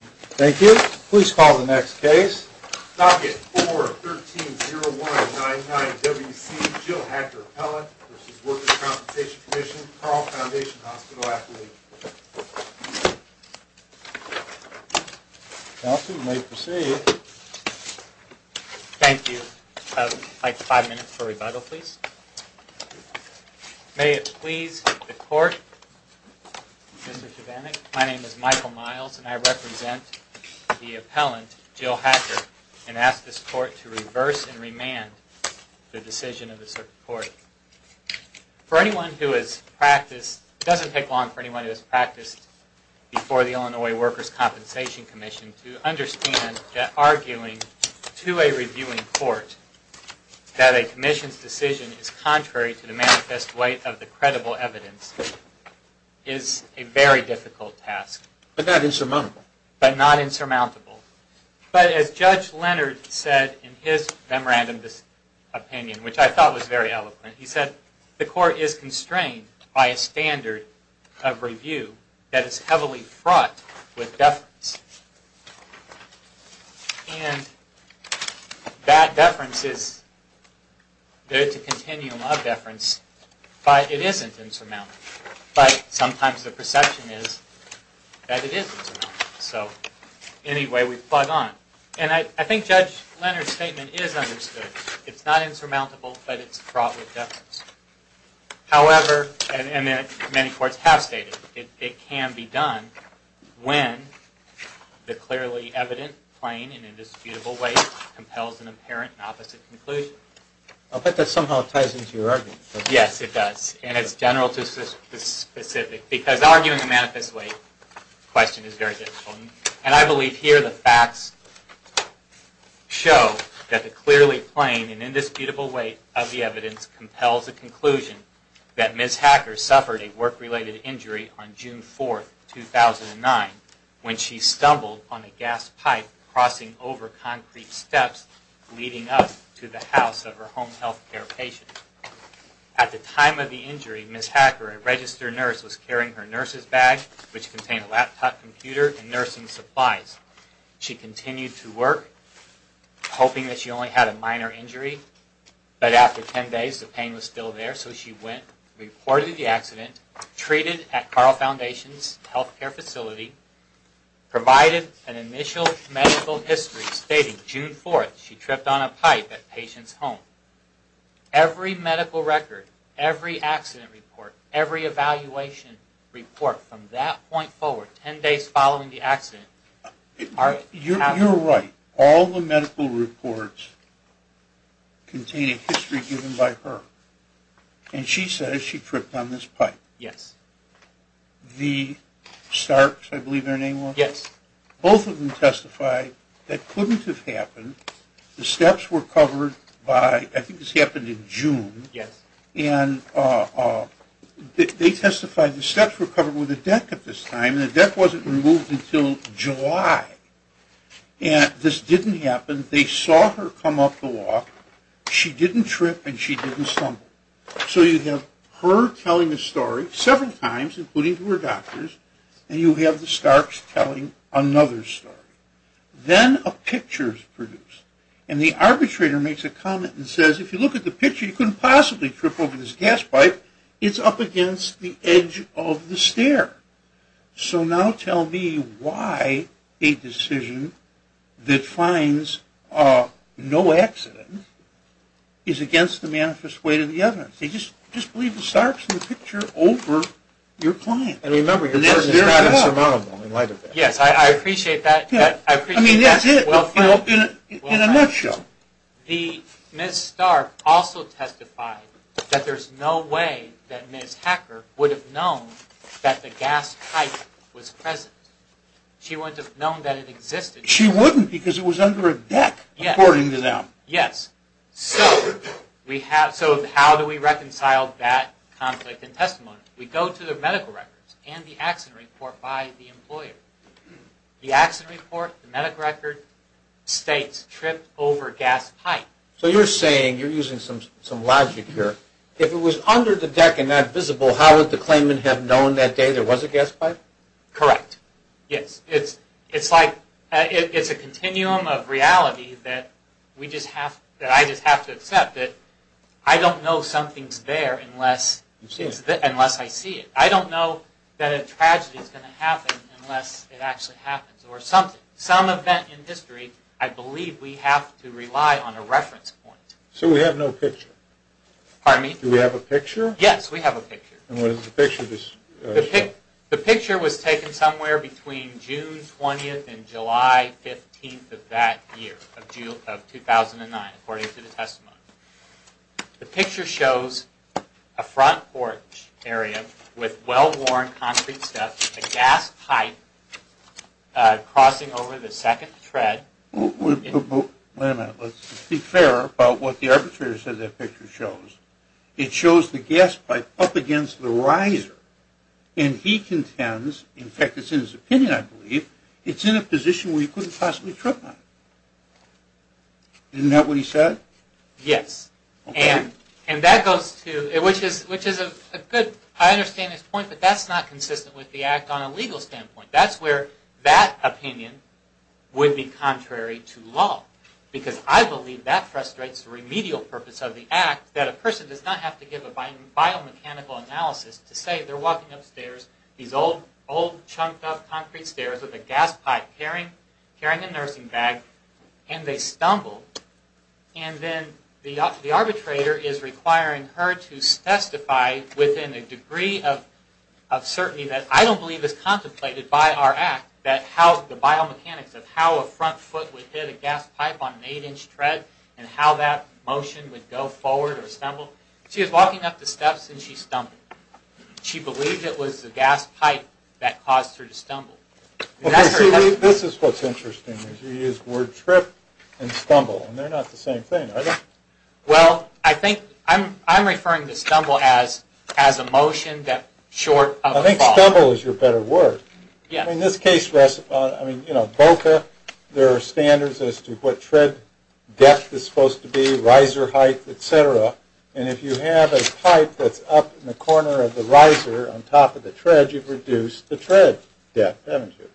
Thank you. Please call the next case. Docket 4-130199-WC, Jill Hacker, appellant v. Workers' Compensation Commission, Carl Foundation Hospital, Appalachia. Counsel, you may proceed. Thank you. I'd like five minutes for rebuttal, please. May it please the Court, Mr. Chivanek. My name is Michael Miles and I represent the appellant, Jill Hacker, and ask this Court to reverse and remand the decision of the Circuit Court. For anyone who has practiced, it doesn't take long for anyone who has practiced before the Illinois Workers' Compensation Commission to understand that arguing to a reviewing court that a commission's decision is contrary to the manifest weight of the credible evidence is a very difficult task. But not insurmountable. But not insurmountable. But as Judge Leonard said in his memorandum of opinion, which I thought was very eloquent, he said, the Court is constrained by a standard of review that is heavily fraught with deference. And that deference is, there is a continuum of deference, but it isn't insurmountable. But sometimes the perception is that it is insurmountable. So, anyway, we plug on. And I think Judge Leonard's statement is understood. It's not insurmountable, but it's fraught with deference. However, and many courts have stated, it can be done when the clearly evident, plain, and indisputable weight compels an apparent and opposite conclusion. I'll bet that somehow ties into your argument. Yes, it does. And it's general to the specific. Because arguing the manifest weight question is very difficult. And I believe here the facts show that the clearly plain and indisputable weight of the evidence compels a conclusion that Ms. Hacker suffered a work-related injury on June 4, 2009, when she stumbled on a gas pipe crossing over concrete steps leading up to the house of her home health care patient. At the time of the injury, Ms. Hacker, a registered nurse, was carrying her nurse's bag, which contained a laptop, computer, and nursing supplies. She continued to work, hoping that she only had a minor injury. But after 10 days, the pain was still there, so she went, reported the accident, treated at Carle Foundation's health care facility, provided an initial medical history stating June 4, she tripped on a pipe at the patient's home. Every medical record, every accident report, every evaluation report from that point forward, 10 days following the accident... You're right. All the medical reports contain a history given by her. And she says she tripped on this pipe. Yes. The Starks, I believe their name was? Yes. Both of them testified that couldn't have happened. The steps were covered by, I think this happened in June. Yes. And they testified the steps were covered with a deck at this time, and the deck wasn't removed until July. And this didn't happen. They saw her come up the walk. She didn't trip, and she didn't stumble. So you have her telling a story several times, including to her doctors, and you have the Starks telling another story. Then a picture is produced, and the arbitrator makes a comment and says, if you look at the picture, you couldn't possibly trip over this gas pipe. It's up against the edge of the stair. So now tell me why a decision that finds no accident is against the manifest way to the evidence. They just believe the Starks in the picture over your client. And remember, your person is not insurmountable in light of that. Yes, I appreciate that. In a nutshell. Ms. Stark also testified that there's no way that Ms. Hacker would have known that the gas pipe was present. She wouldn't have known that it existed. She wouldn't, because it was under a deck, according to them. Yes. So how do we reconcile that conflict in testimony? We go to the medical records and the accident report by the employer. The accident report, the medical record, states tripped over gas pipe. So you're saying, you're using some logic here, if it was under the deck and not visible, how would the claimant have known that day there was a gas pipe? Correct. Yes. It's like, it's a continuum of reality that we just have, that I just have to accept it. I don't know something's there unless I see it. I don't know that a tragedy is going to happen unless it actually happens, or something. Some event in history, I believe we have to rely on a reference point. So we have no picture? Pardon me? Do we have a picture? Yes, we have a picture. And what is the picture? The picture was taken somewhere between June 20th and July 15th of that year, of 2009, according to the testimony. The picture shows a front porch area with well-worn concrete steps, a gas pipe crossing over the second tread. Wait a minute, let's be fair about what the arbitrator said that picture shows. It shows the gas pipe up against the riser, and he contends, in fact it's in his opinion, I believe, it's in a position where he couldn't possibly trip on it. Isn't that what he said? Yes. Okay. And that goes to, which is a good, I understand his point, but that's not consistent with the act on a legal standpoint. That's where that opinion would be contrary to law, because I believe that frustrates the remedial purpose of the act that a person does not have to give a biomechanical analysis to say they're walking upstairs, these old, chunked-up concrete stairs with a gas pipe carrying a nursing bag, and they stumble. And then the arbitrator is requiring her to testify within a degree of certainty that I don't believe is contemplated by our act that how the biomechanics of how a front foot would hit a gas pipe on an 8-inch tread and how that motion would go forward or stumble. She was walking up the steps, and she stumbled. She believed it was the gas pipe that caused her to stumble. This is what's interesting, is you use the word trip and stumble, and they're not the same thing, are they? Well, I think I'm referring to stumble as a motion that's short of a fall. I think stumble is your better word. Yes. I mean, in this case, Boca, there are standards as to what tread depth is supposed to be, riser height, et cetera. And if you have a pipe that's up in the corner of the riser on top of the tread, you've reduced the tread depth, haven't you?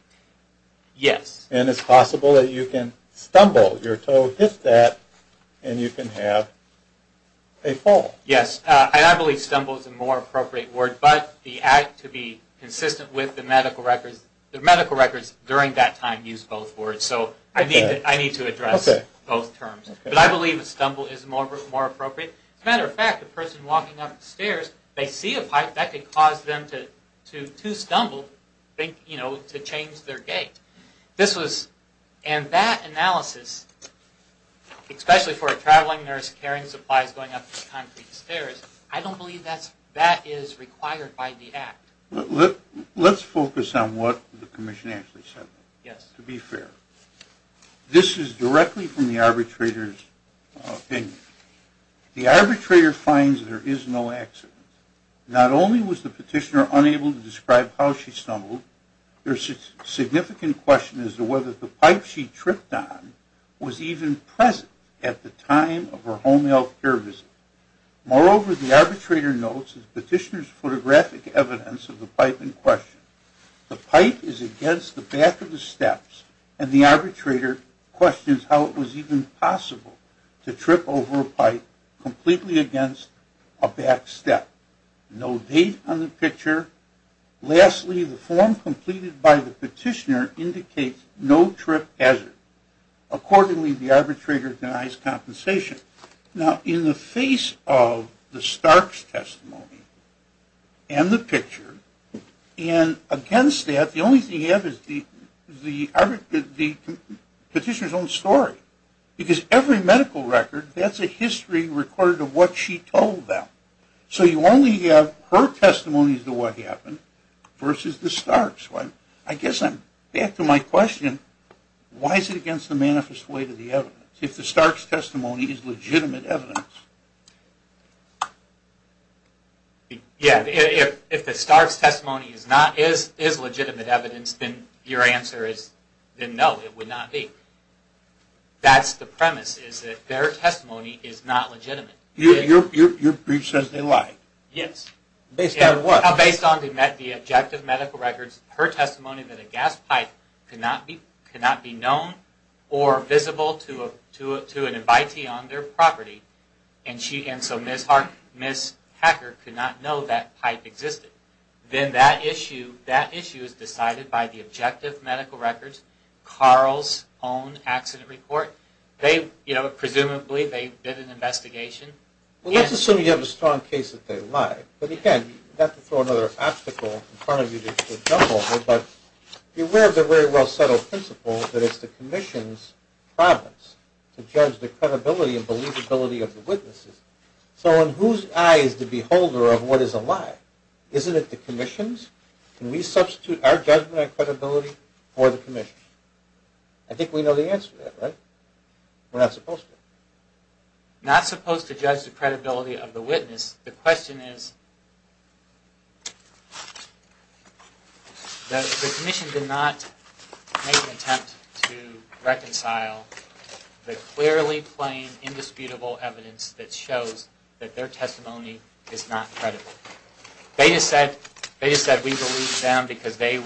Yes. And it's possible that you can stumble, your toe hits that, and you can have a fall. Yes. I believe stumble is a more appropriate word, but to be consistent with the medical records, the medical records during that time use both words, so I need to address both terms. But I believe stumble is more appropriate. As a matter of fact, the person walking up the stairs, they see a pipe that could cause them to stumble, to change their gait. And that analysis, especially for a traveling nurse carrying supplies going up these concrete stairs, I don't believe that is required by the Act. Let's focus on what the Commission actually said. Yes. To be fair, this is directly from the arbitrator's opinion. The arbitrator finds there is no accident. Not only was the petitioner unable to describe how she stumbled, there is a significant question as to whether the pipe she tripped on was even present at the time of her home health care visit. Moreover, the arbitrator notes the petitioner's photographic evidence of the pipe in question. The pipe is against the back of the steps, and the arbitrator questions how it was even possible to trip over a pipe completely against a back step. No date on the picture. Lastly, the form completed by the petitioner indicates no trip hazard. Accordingly, the arbitrator denies compensation. Now, in the face of the Stark's testimony and the picture, and against that, the only thing you have is the petitioner's own story. Because every medical record, that's a history recorded of what she told them. So you only have her testimony as to what happened versus the Stark's. I guess I'm back to my question. Why is it against the manifest way to the evidence, if the Stark's testimony is legitimate evidence? Yeah, if the Stark's testimony is legitimate evidence, then your answer is no, it would not be. That's the premise, is that their testimony is not legitimate. Your brief says they lied. Yes. Based on what? Based on the objective medical records. Her testimony that a gas pipe could not be known or visible to an invitee on their property, and so Ms. Hacker could not know that pipe existed. Then that issue is decided by the objective medical records, Carl's own accident report. Presumably they did an investigation. Well, let's assume you have a strong case that they lied. But again, not to throw another obstacle in front of you to jump over, but be aware of the very well-settled principle that it's the Commission's promise to judge the credibility and believability of the witnesses. So in whose eyes is the beholder of what is a lie? Isn't it the Commission's? Can we substitute our judgment and credibility for the Commission's? I think we know the answer to that, right? We're not supposed to. Not supposed to judge the credibility of the witness. The question is, the Commission did not make an attempt to reconcile the clearly plain, indisputable evidence that shows that their testimony is not credible. They just said we believe them because the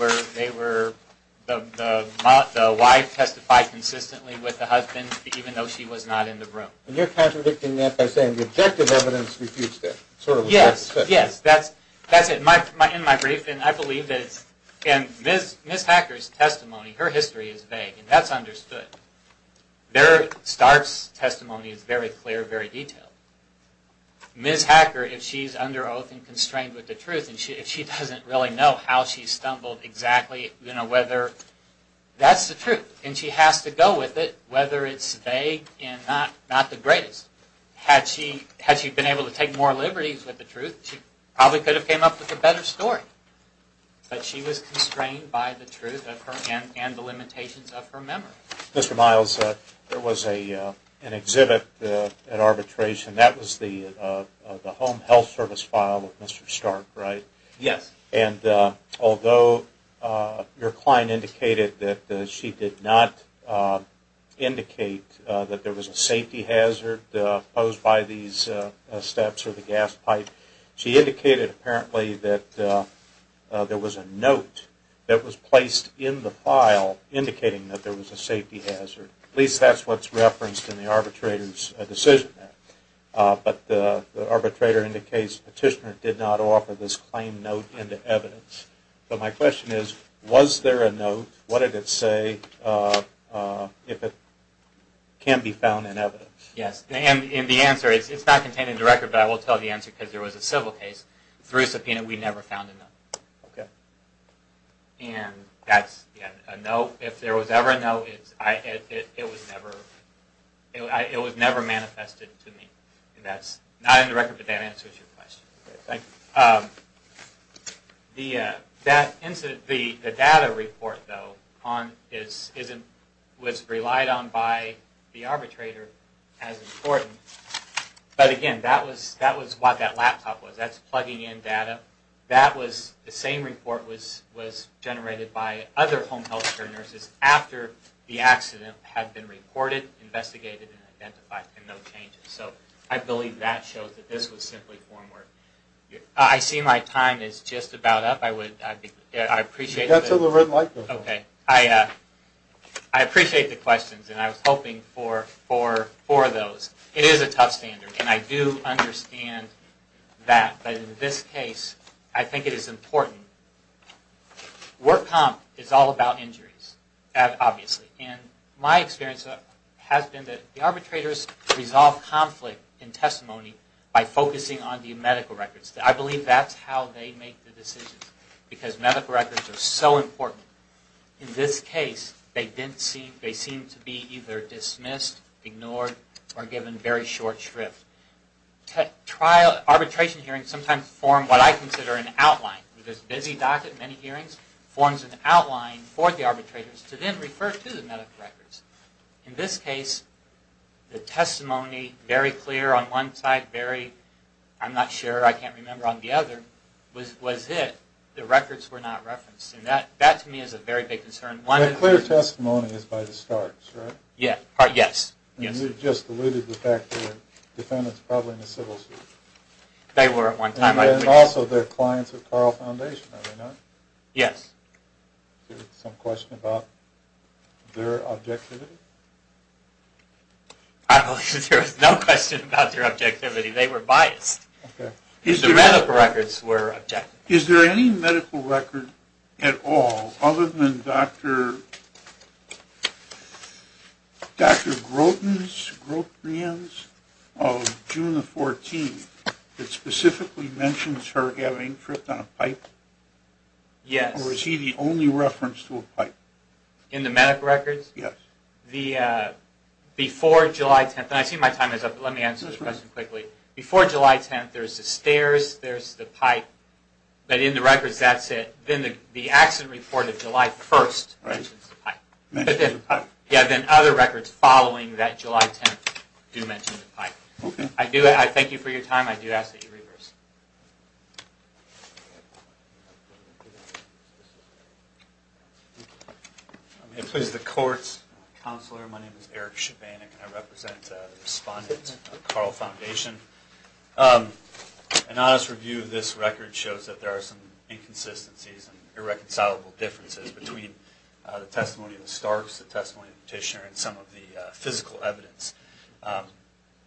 wife testified consistently with the husband, even though she was not in the room. And you're contradicting that by saying the objective evidence refutes that. Yes, yes. That's it. In my brief, I believe that Ms. Hacker's testimony, her history is vague, and that's understood. There, Stark's testimony is very clear, very detailed. Ms. Hacker, if she's under oath and constrained with the truth, and if she doesn't really know how she stumbled exactly, you know, whether, that's the truth, and she has to go with it, whether it's vague and not the greatest. Had she been able to take more liberties with the truth, she probably could have came up with a better story. But she was constrained by the truth and the limitations of her memory. Mr. Miles, there was an exhibit at arbitration. That was the home health service file of Mr. Stark, right? Yes. And although your client indicated that she did not indicate that there was a safety hazard posed by these steps or the gas pipe, she indicated apparently that there was a note that was placed in the file indicating that there was a safety hazard. At least that's what's referenced in the arbitrator's decision. But the arbitrator indicates the petitioner did not offer this claim note into evidence. So my question is, was there a note? What did it say if it can be found in evidence? Yes. And the answer is, it's not contained in the record, but I will tell the answer because there was a civil case through subpoena. We never found a note. Okay. And that's a note. If there was ever a note, it was never manifested to me. And that's not in the record, but that answers your question. Okay, thank you. The data report, though, was relied on by the arbitrator as important. But again, that was what that laptop was. That's plugging in data. The same report was generated by other home health care nurses after the accident had been reported, investigated, and identified, and no changes. So I believe that shows that this was simply form work. I see my time is just about up. I appreciate the questions, and I was hoping for those. It is a tough standard, and I do understand that. But in this case, I think it is important. Work comp is all about injuries, obviously. And my experience has been that the arbitrators resolve conflict in testimony by focusing on the medical records. I believe that's how they make the decisions because medical records are so important. In this case, they seem to be either dismissed, ignored, or given very short shrift. Arbitration hearings sometimes form what I consider an outline. This busy docket, many hearings, forms an outline for the arbitrators to then refer to the medical records. In this case, the testimony, very clear on one side, I'm not sure, I can't remember on the other, was it. The records were not referenced. That, to me, is a very big concern. The clear testimony is by the starch, right? Yes. You just alluded to the fact that the defendants were probably in a civil suit. They were at one time. And also their clients at Carl Foundation, are they not? Yes. Is there some question about their objectivity? I believe there is no question about their objectivity. They were biased. The medical records were objective. Is there any medical record at all other than Dr. Groten's of June the 14th that specifically mentions her having tripped on a pipe? Yes. Or is he the only reference to a pipe? In the medical records? Yes. Before July 10th, and I see my time is up, but let me answer this question quickly. Before July 10th, there's the stairs, there's the pipe. But in the records, that's it. Then the accident report of July 1st mentions the pipe. Yeah, then other records following that July 10th do mention the pipe. I thank you for your time. I do ask that you reverse. May it please the court. Counselor, my name is Eric Shabanek, and I represent the respondents at Carl Foundation. An honest review of this record shows that there are some inconsistencies and irreconcilable differences between the testimony of the Starks, the testimony of the petitioner, and some of the physical evidence. I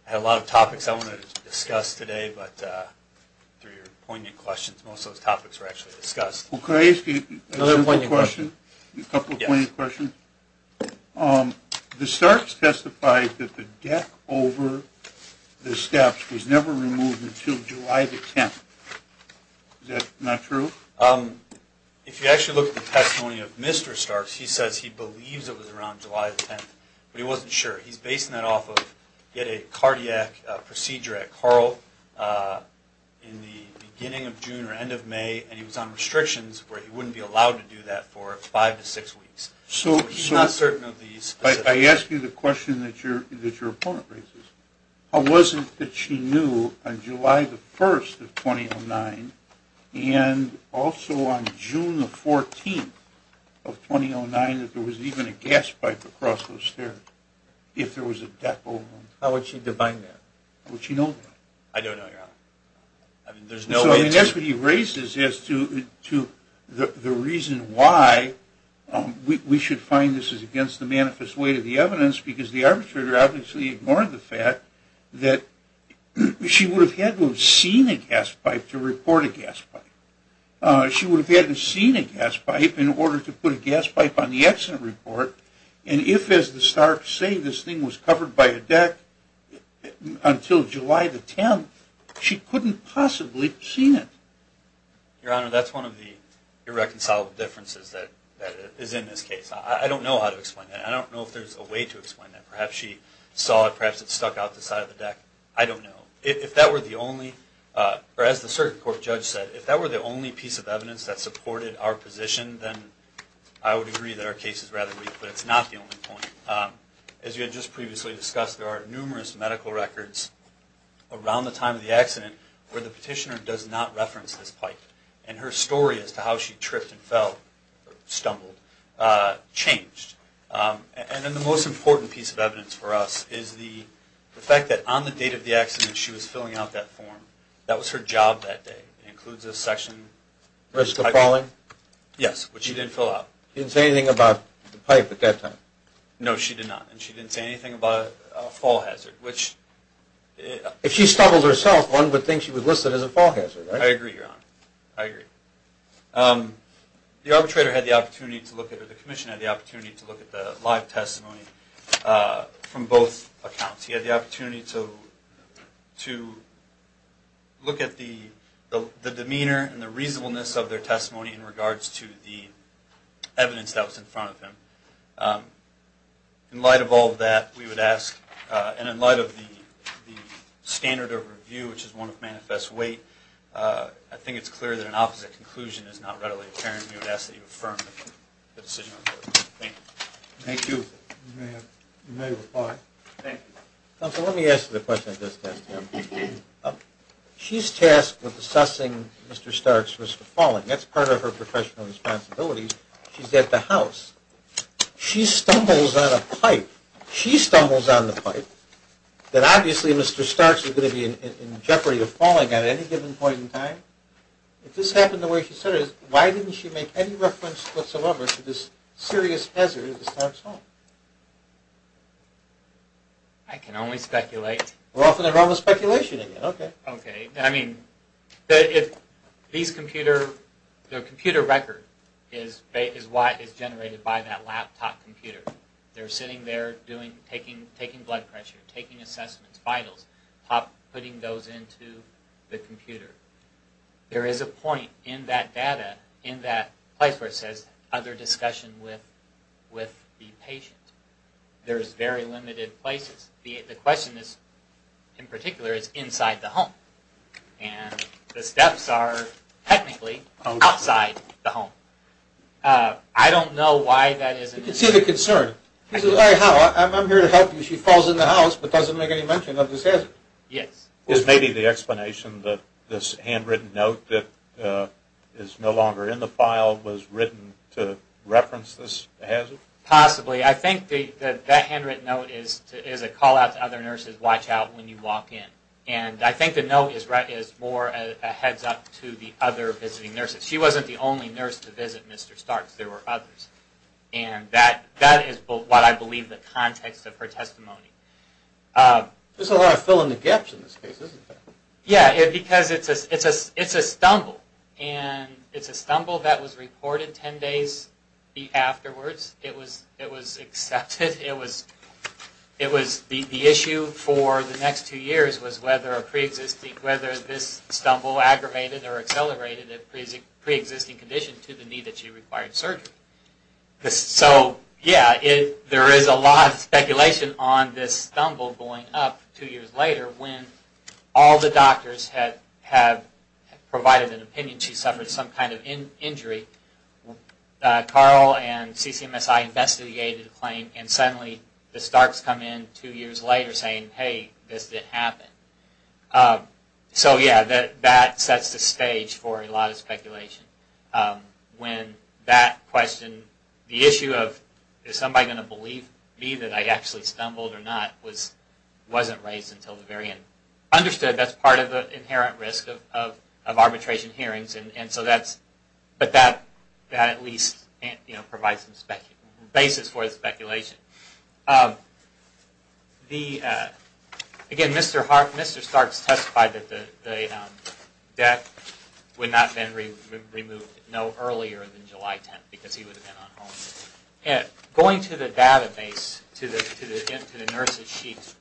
had a lot of topics I wanted to discuss today, but through your poignant questions, most of those topics were actually discussed. Well, could I ask you a simple question, a couple of poignant questions? The Starks testified that the deck over the steps was never removed until July the 10th. Is that not true? If you actually look at the testimony of Mr. Starks, he says he believes it was around July the 10th, but he wasn't sure. He's basing that off of a cardiac procedure at Carl in the beginning of June or end of May, and he was on restrictions where he wouldn't be allowed to do that for five to six weeks. So he's not certain of the specifics. I ask you the question that your opponent raises. How was it that she knew on July the 1st of 2009 and also on June the 14th of 2009 that there was even a gas pipe across those stairs if there was a deck over them? How would she define that? How would she know that? I don't know, Your Honor. So that's what he raises as to the reason why we should find this is against the manifest weight of the evidence because the arbitrator obviously ignored the fact that she would have had to have seen a gas pipe to report a gas pipe. She would have had to have seen a gas pipe in order to put a gas pipe on the accident report, and if, as the starks say, this thing was covered by a deck until July the 10th, she couldn't possibly have seen it. Your Honor, that's one of the irreconcilable differences that is in this case. I don't know how to explain that. I don't know if there's a way to explain that. Perhaps she saw it. Perhaps it stuck out the side of the deck. I don't know. If that were the only, or as the circuit court judge said, if that were the only piece of evidence that supported our position, then I would agree that our case is rather weak, but it's not the only point. As you had just previously discussed, there are numerous medical records around the time of the accident where the petitioner does not reference this pipe, and her story as to how she tripped and fell, stumbled, changed. And then the most important piece of evidence for us is the fact that on the date of the accident she was filling out that form. That was her job that day. It includes this section. Risk of falling? Yes, which she didn't fill out. She didn't say anything about the pipe at that time? No, she did not, and she didn't say anything about a fall hazard, which... If she stumbled herself, one would think she was listed as a fall hazard, right? I agree, Your Honor. I agree. The arbitrator had the opportunity to look at, or the commission had the opportunity to look at the live testimony from both accounts. He had the opportunity to look at the demeanor and the reasonableness of their testimony in regards to the evidence that was in front of him. In light of all that, we would ask, and in light of the standard of review, which is one of manifest weight, I think it's clear that an opposite conclusion is not readily apparent. We would ask that you affirm the decision. Thank you. Thank you. You may reply. Thank you. Counsel, let me ask you the question I just asked him. She's tasked with assessing Mr. Starks' risk of falling. That's part of her professional responsibility. She's at the house. She stumbles on a pipe. She stumbles on the pipe that obviously Mr. Starks is going to be in jeopardy of falling at any given point in time. If this happened the way she said it, why didn't she make any reference whatsoever to this serious hazard of Mr. Starks' fall? I can only speculate. We're off in the realm of speculation again. Okay. Okay. I mean, these computer, the computer record is what is generated by that laptop computer. They're sitting there taking blood pressure, taking assessments, vitals, putting those into the computer. There is a point in that data, in that place where it says other discussion with the patient. There's very limited places. The question is, in particular, is inside the home. And the steps are technically outside the home. I don't know why that is. You can see the concern. She says, all right, Hal, I'm here to help you. She falls in the house but doesn't make any mention of this hazard. Yes. Is maybe the explanation that this handwritten note that is no longer in the file was written to reference this hazard? Possibly. I think that that handwritten note is a call out to other nurses, watch out when you walk in. And I think the note is more a heads up to the other visiting nurses. She wasn't the only nurse to visit Mr. Starks. There were others. And that is what I believe the context of her testimony. There's a lot of fill in the gaps in this case, isn't there? Yes, because it's a stumble. And it's a stumble that was reported ten days afterwards. It was accepted. It was the issue for the next two years was whether this stumble aggravated or accelerated the pre-existing condition to the need that she required surgery. So, yeah, there is a lot of speculation on this stumble going up two years later when all the doctors have provided an opinion she suffered some kind of injury. Carl and CCMSI investigated the claim and suddenly the Starks come in two years later saying, hey, this didn't happen. So, yeah, that sets the stage for a lot of speculation. When that question, the issue of is somebody going to believe me that I actually stumbled or not, wasn't raised until the very end. Understood, that's part of the inherent risk of arbitration hearings, but that at least provides some basis for the speculation. And again, Mr. Starks testified that the death would not have been removed no earlier than July 10th because he would have been at home. Going to the database, to the nurse's sheet,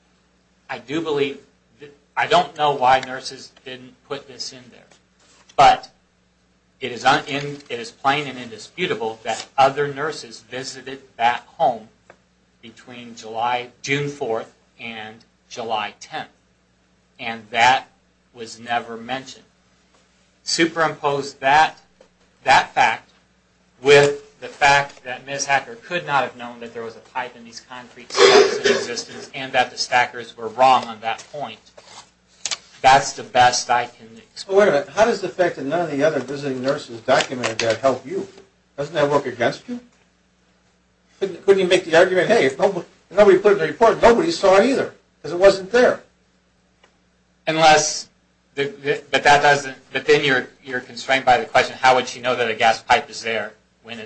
I do believe, I don't know why nurses didn't put this in there, but it is plain and indisputable that other nurses visited that home between June 4th and July 10th, and that was never mentioned. Superimpose that fact with the fact that Ms. Hacker could not have known that there was a pipe in these concrete steps in existence and that the Stackers were wrong on that point. That's the best I can explain. Wait a minute, how does the fact that none of the other visiting nurses documented that help you? Doesn't that work against you? Couldn't you make the argument, hey, if nobody put it in the report, nobody saw it either, because it wasn't there? Unless, but that doesn't, but then you're constrained by the question, how would she know that a gas pipe is there when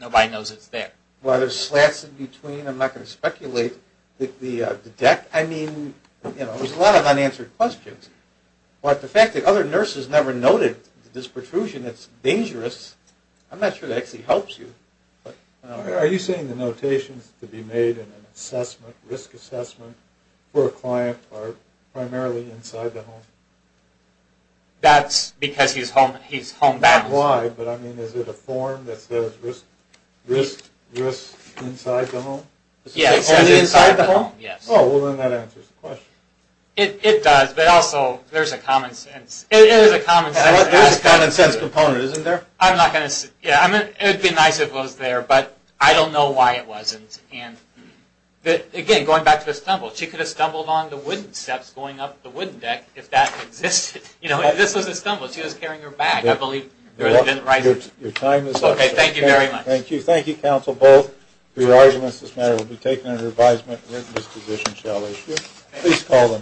nobody knows it's there? Well, there's slats in between, I'm not going to speculate. The deck, I mean, you know, there's a lot of unanswered questions. But the fact that other nurses never noted this protrusion, it's dangerous. I'm not sure that actually helps you. Are you saying the notations to be made in an assessment, risk assessment, for a client are primarily inside the home? That's because he's homebound. Not why, but I mean, is it a form that says risk inside the home? Yes, it says inside the home, yes. Oh, well, then that answers the question. It does, but also, there's a common sense. There's a common sense component, isn't there? It would be nice if it was there, but I don't know why it wasn't. Again, going back to the stumble, she could have stumbled on the wooden steps going up the wooden deck if that existed. This was a stumble, she was carrying her bag, I believe. Your time is up. Okay, thank you very much. Thank you. Thank you, counsel, both, for your arguments. This matter will be taken under advisement. This position shall issue.